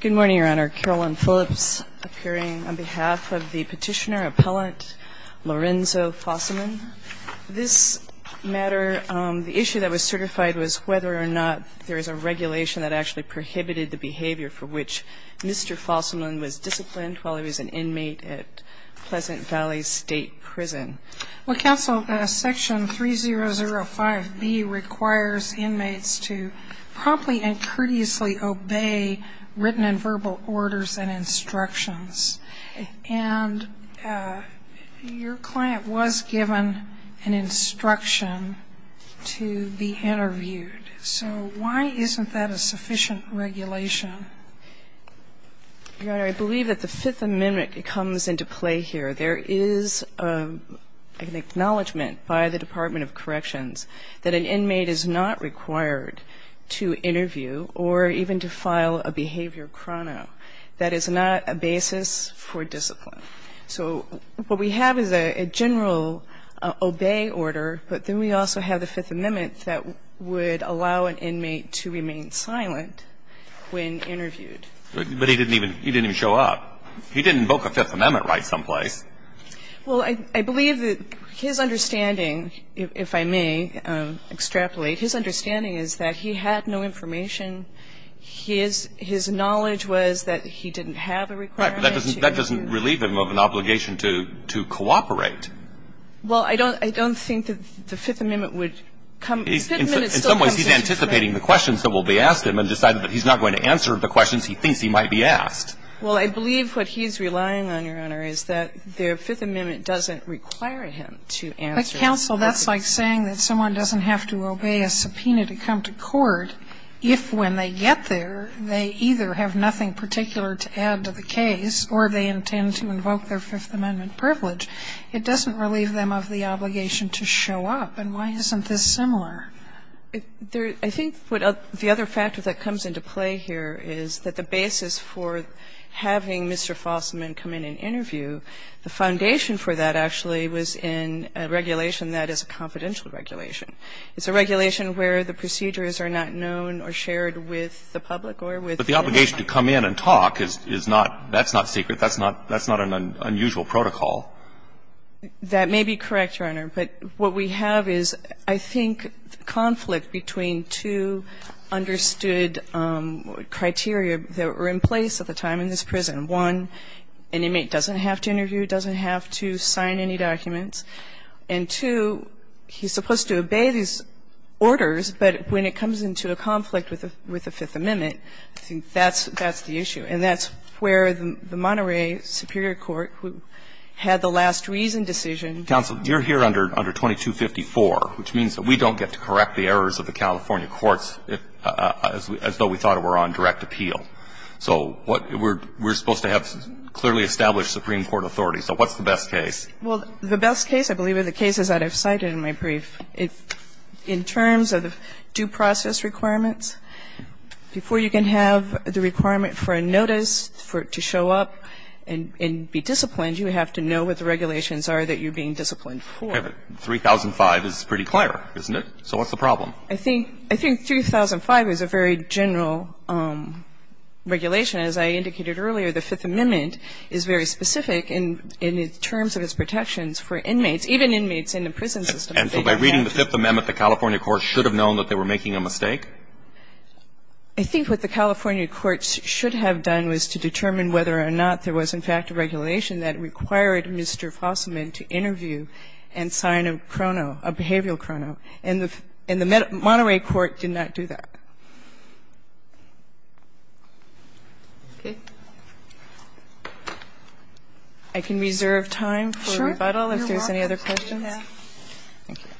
Good morning, Your Honor. Carolyn Phillips appearing on behalf of the petitioner-appellant Lorenzo Fosselman. This matter, the issue that was certified was whether or not there is a regulation that actually prohibited the behavior for which Mr. Fosselman was disciplined while he was an inmate at Pleasant Valley State Prison. Well, Counsel, Section 3005B requires inmates to promptly and courteously obey written and verbal orders and instructions. And your client was given an instruction to be interviewed. So why isn't that a sufficient regulation? Your Honor, I believe that the Fifth Amendment comes into play here. There is an acknowledgment by the Department of Corrections that an inmate is not required to interview or even to file a behavior chrono. That is not a basis for discipline. So what we have is a general obey order, but then we also have the Fifth Amendment that would allow an inmate to remain silent when interviewed. But he didn't even show up. He didn't invoke a Fifth Amendment right someplace. Well, I believe that his understanding, if I may extrapolate, his understanding is that he had no information. His knowledge was that he didn't have a requirement. That doesn't relieve him of an obligation to cooperate. Well, I don't think that the Fifth Amendment would come. In some ways, he's anticipating the questions that will be asked him and decided Well, I believe what he's relying on, Your Honor, is that the Fifth Amendment doesn't require him to answer those questions. But, counsel, that's like saying that someone doesn't have to obey a subpoena to come to court if, when they get there, they either have nothing particular to add to the case or they intend to invoke their Fifth Amendment privilege. It doesn't relieve them of the obligation to show up. And why isn't this similar? I think what the other factor that comes into play here is that the basis for having Mr. Fossman come in and interview, the foundation for that actually was in a regulation that is a confidential regulation. It's a regulation where the procedures are not known or shared with the public or with the individual. But the obligation to come in and talk is not, that's not secret. That's not an unusual protocol. That may be correct, Your Honor. But what we have is, I think, conflict between two understood criteria that were in place at the time in this prison. One, an inmate doesn't have to interview, doesn't have to sign any documents. And, two, he's supposed to obey these orders, but when it comes into a conflict with the Fifth Amendment, I think that's the issue. And that's where the Monterey Superior Court, who had the last reason decision to do that, I think has the best case. And I think that's where the issue is. Roberts. Counsel. Counsel, you're here under 2254, which means that we don't get to correct the errors of the California courts as though we thought it were on direct appeal. So we're supposed to have clearly established Supreme Court authority. So what's the best case? Well, the best case, I believe, are the cases that I've cited in my brief. In terms of the due process requirements, before you can have the requirement for a notice for it to show up and be disciplined, you have to know what the regulations are that you're being disciplined for. Okay. But 3005 is pretty clear, isn't it? So what's the problem? I think 3005 is a very general regulation. As I indicated earlier, the Fifth Amendment is very specific in its terms of its protections for inmates, even inmates in the prison system. And so by reading the Fifth Amendment, the California courts should have known that they were making a mistake? I think what the California courts should have done was to determine whether or not there was, in fact, a regulation that required Mr. Fossman to interview and sign a chrono, a behavioral chrono. And the Monterey court did not do that. Okay. I can reserve time for rebuttal if there's any other questions. Thank you.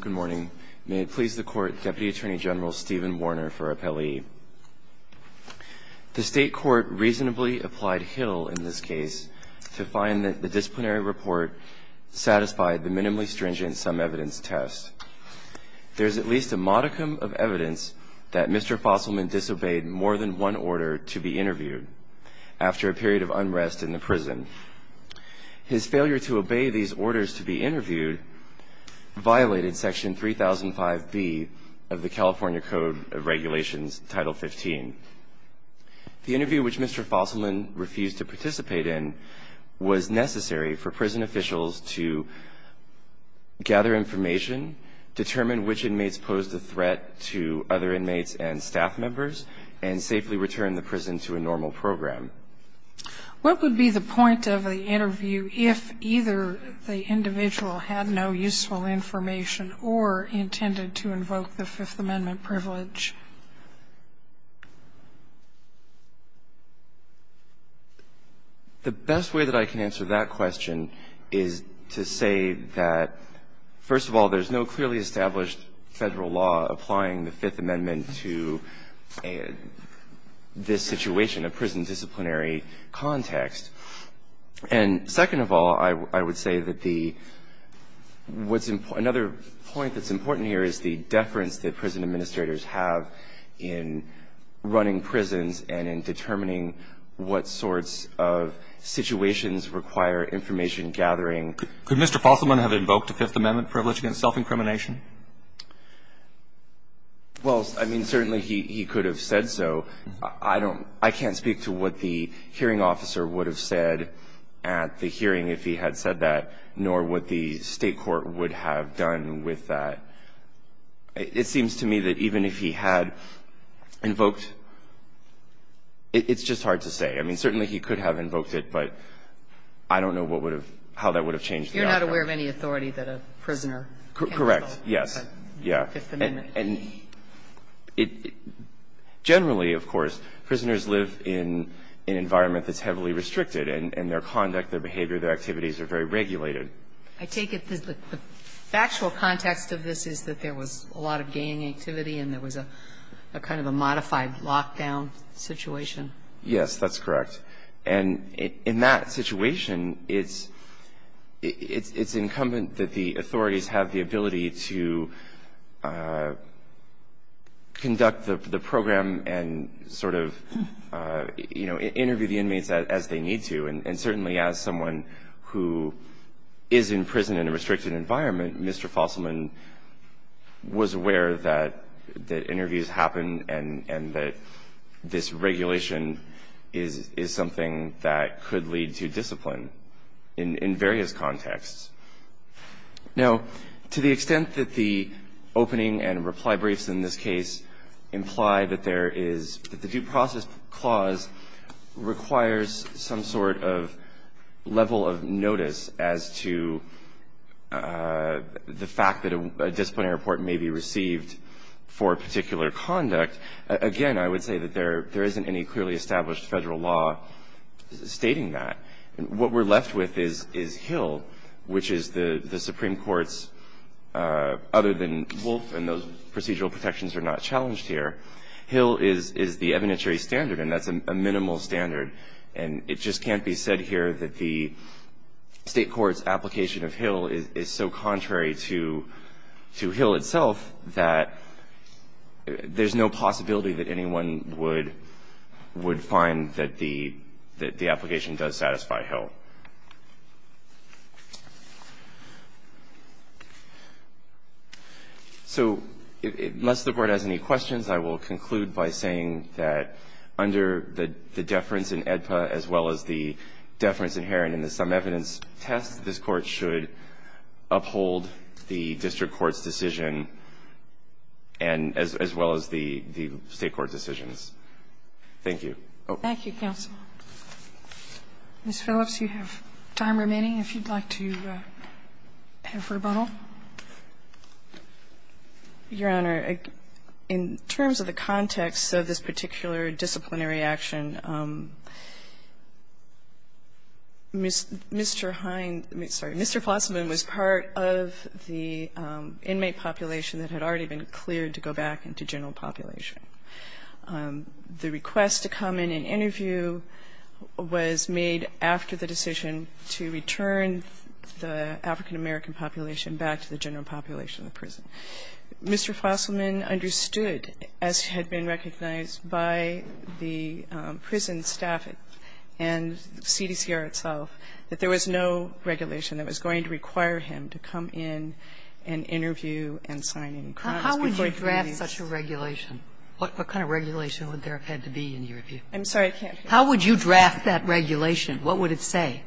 Good morning. May it please the Court, Deputy Attorney General Stephen Warner for Appellee. The State Court reasonably applied Hill in this case to find that the disciplinary report satisfied the minimally stringent sum evidence test. There's at least a modicum of evidence that Mr. Fossman disobeyed more than one order to be interviewed after a period of unrest in the prison. His failure to obey these orders to be interviewed violated Section 3005B of the Title 15. The interview which Mr. Fossman refused to participate in was necessary for prison officials to gather information, determine which inmates posed a threat to other inmates and staff members, and safely return the prison to a normal program. What would be the point of the interview if either the individual had no useful information or intended to invoke the Fifth Amendment privilege? The best way that I can answer that question is to say that, first of all, there's no clearly established Federal law applying the Fifth Amendment to this situation, a prison disciplinary context. And second of all, I would say that the what's important, another point that's important here is the deference that prison administrators have in running prisons and in determining what sorts of situations require information gathering. Could Mr. Fossman have invoked a Fifth Amendment privilege against self-incrimination? Well, I mean, certainly he could have said so. I don't – I can't speak to what the hearing officer would have said at the hearing if he had said that, nor what the State court would have done with that. It seems to me that even if he had invoked – it's just hard to say. I mean, certainly he could have invoked it, but I don't know what would have – how that would have changed the outcome. You're not aware of any authority that a prisoner can have. Correct. Yes. Yeah. Fifth Amendment. And generally, of course, prisoners live in an environment that's heavily restricted and their conduct, their behavior, their activities are very regulated. I take it the factual context of this is that there was a lot of gang activity and there was a kind of a modified lockdown situation. Yes, that's correct. And in that situation, it's incumbent that the authorities have the ability to conduct the program and sort of, you know, interview the inmates as they need to. And certainly as someone who is in prison in a restricted environment, Mr. Fosselman was aware that interviews happen and that this regulation is something that could lead to discipline in various contexts. Now, to the extent that the opening and reply briefs in this case imply that there is – that the due process clause requires some sort of level of notice as to the fact that a disciplinary report may be received for a particular conduct, again, I would say that there isn't any clearly established federal law stating that. What we're left with is Hill, which is the Supreme Court's other than Wolf and those procedural protections are not challenged here. Hill is the evidentiary standard, and that's a minimal standard. And it just can't be said here that the State Court's application of Hill is so contrary to find that the application does satisfy Hill. So unless the Court has any questions, I will conclude by saying that under the deference in AEDPA as well as the deference inherent in the sum evidence test, this Court should uphold the district court's decision and as well as the State court's decisions. Thank you. Thank you, counsel. Ms. Phillips, you have time remaining if you'd like to have rebuttal. Your Honor, in terms of the context of this particular disciplinary action, Mr. Hind was part of the inmate population that had already been cleared to go back into general population. The request to come in and interview was made after the decision to return the African American population back to the general population of the prison. Mr. Flosselman understood, as had been recognized by the prison staff and CDCR itself, that there was no regulation that was going to require him to come in and interview and sign any crimes before he could be released. How would you draft such a regulation? What kind of regulation would there have had to be in your view? I'm sorry, I can't hear you. How would you draft that regulation? What would it say?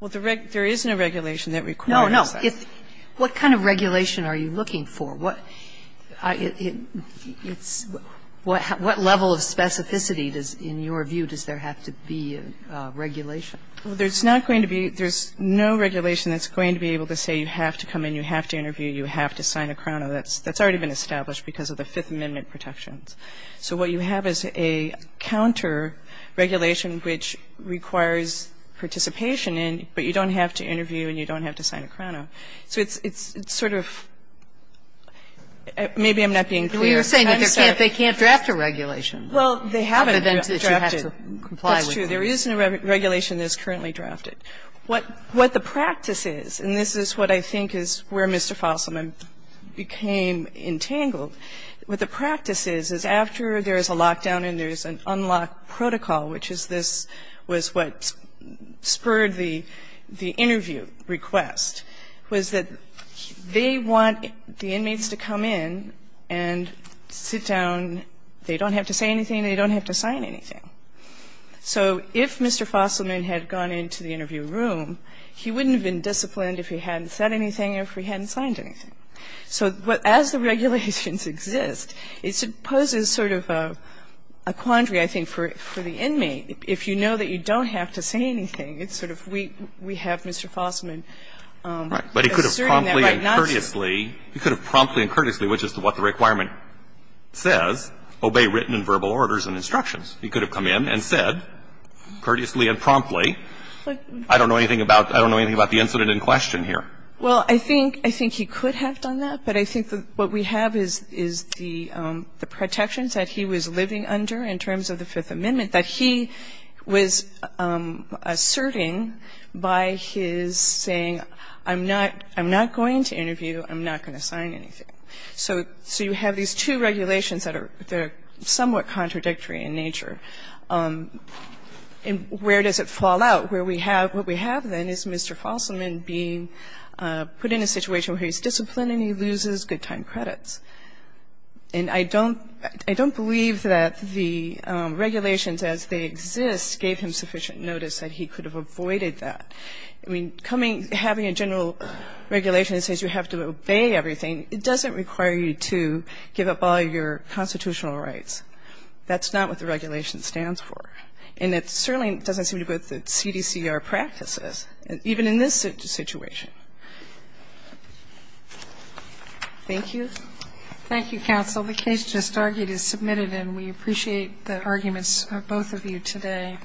Well, there is no regulation that requires that. No, no. What kind of regulation are you looking for? What level of specificity in your view does there have to be in regulation? Well, there's not going to be – there's no regulation that's going to be able to say you have to come in, you have to interview, you have to sign a Crono. That's already been established because of the Fifth Amendment protections. So what you have is a counter regulation which requires participation in, but you don't have to interview and you don't have to sign a Crono. So it's sort of – maybe I'm not being clear. Well, you were saying that they can't draft a regulation. Well, they have an event that you have to comply with. Well, that's true. There is no regulation that is currently drafted. What the practice is, and this is what I think is where Mr. Fasselman became entangled, what the practice is, is after there is a lockdown and there is an unlocked protocol, which is this – was what spurred the interview request, was that they want the inmates to come in and sit down. They don't have to say anything. They don't have to sign anything. So if Mr. Fasselman had gone into the interview room, he wouldn't have been disciplined if he hadn't said anything or if he hadn't signed anything. So as the regulations exist, it poses sort of a quandary, I think, for the inmate. If you know that you don't have to say anything, it's sort of we have Mr. Fasselman asserting that right now. Right. But he could have promptly and courteously – he could have promptly and courteously, which is what the requirement says, obey written and verbal orders and instructions. He could have come in and said courteously and promptly, I don't know anything about – I don't know anything about the incident in question here. Well, I think he could have done that, but I think what we have is the protections that he was living under in terms of the Fifth Amendment that he was asserting by his saying, I'm not going to interview, I'm not going to sign anything. So you have these two regulations that are somewhat contradictory in nature. And where does it fall out? Where we have – what we have, then, is Mr. Fasselman being put in a situation where he's disciplined and he loses good time credits. And I don't believe that the regulations as they exist gave him sufficient notice that he could have avoided that. I mean, having a general regulation that says you have to obey everything, it doesn't require you to give up all your constitutional rights. That's not what the regulation stands for. And it certainly doesn't seem to go with the CDCR practices, even in this situation. Thank you. Thank you, counsel. The case just argued is submitted, and we appreciate the arguments of both of you today.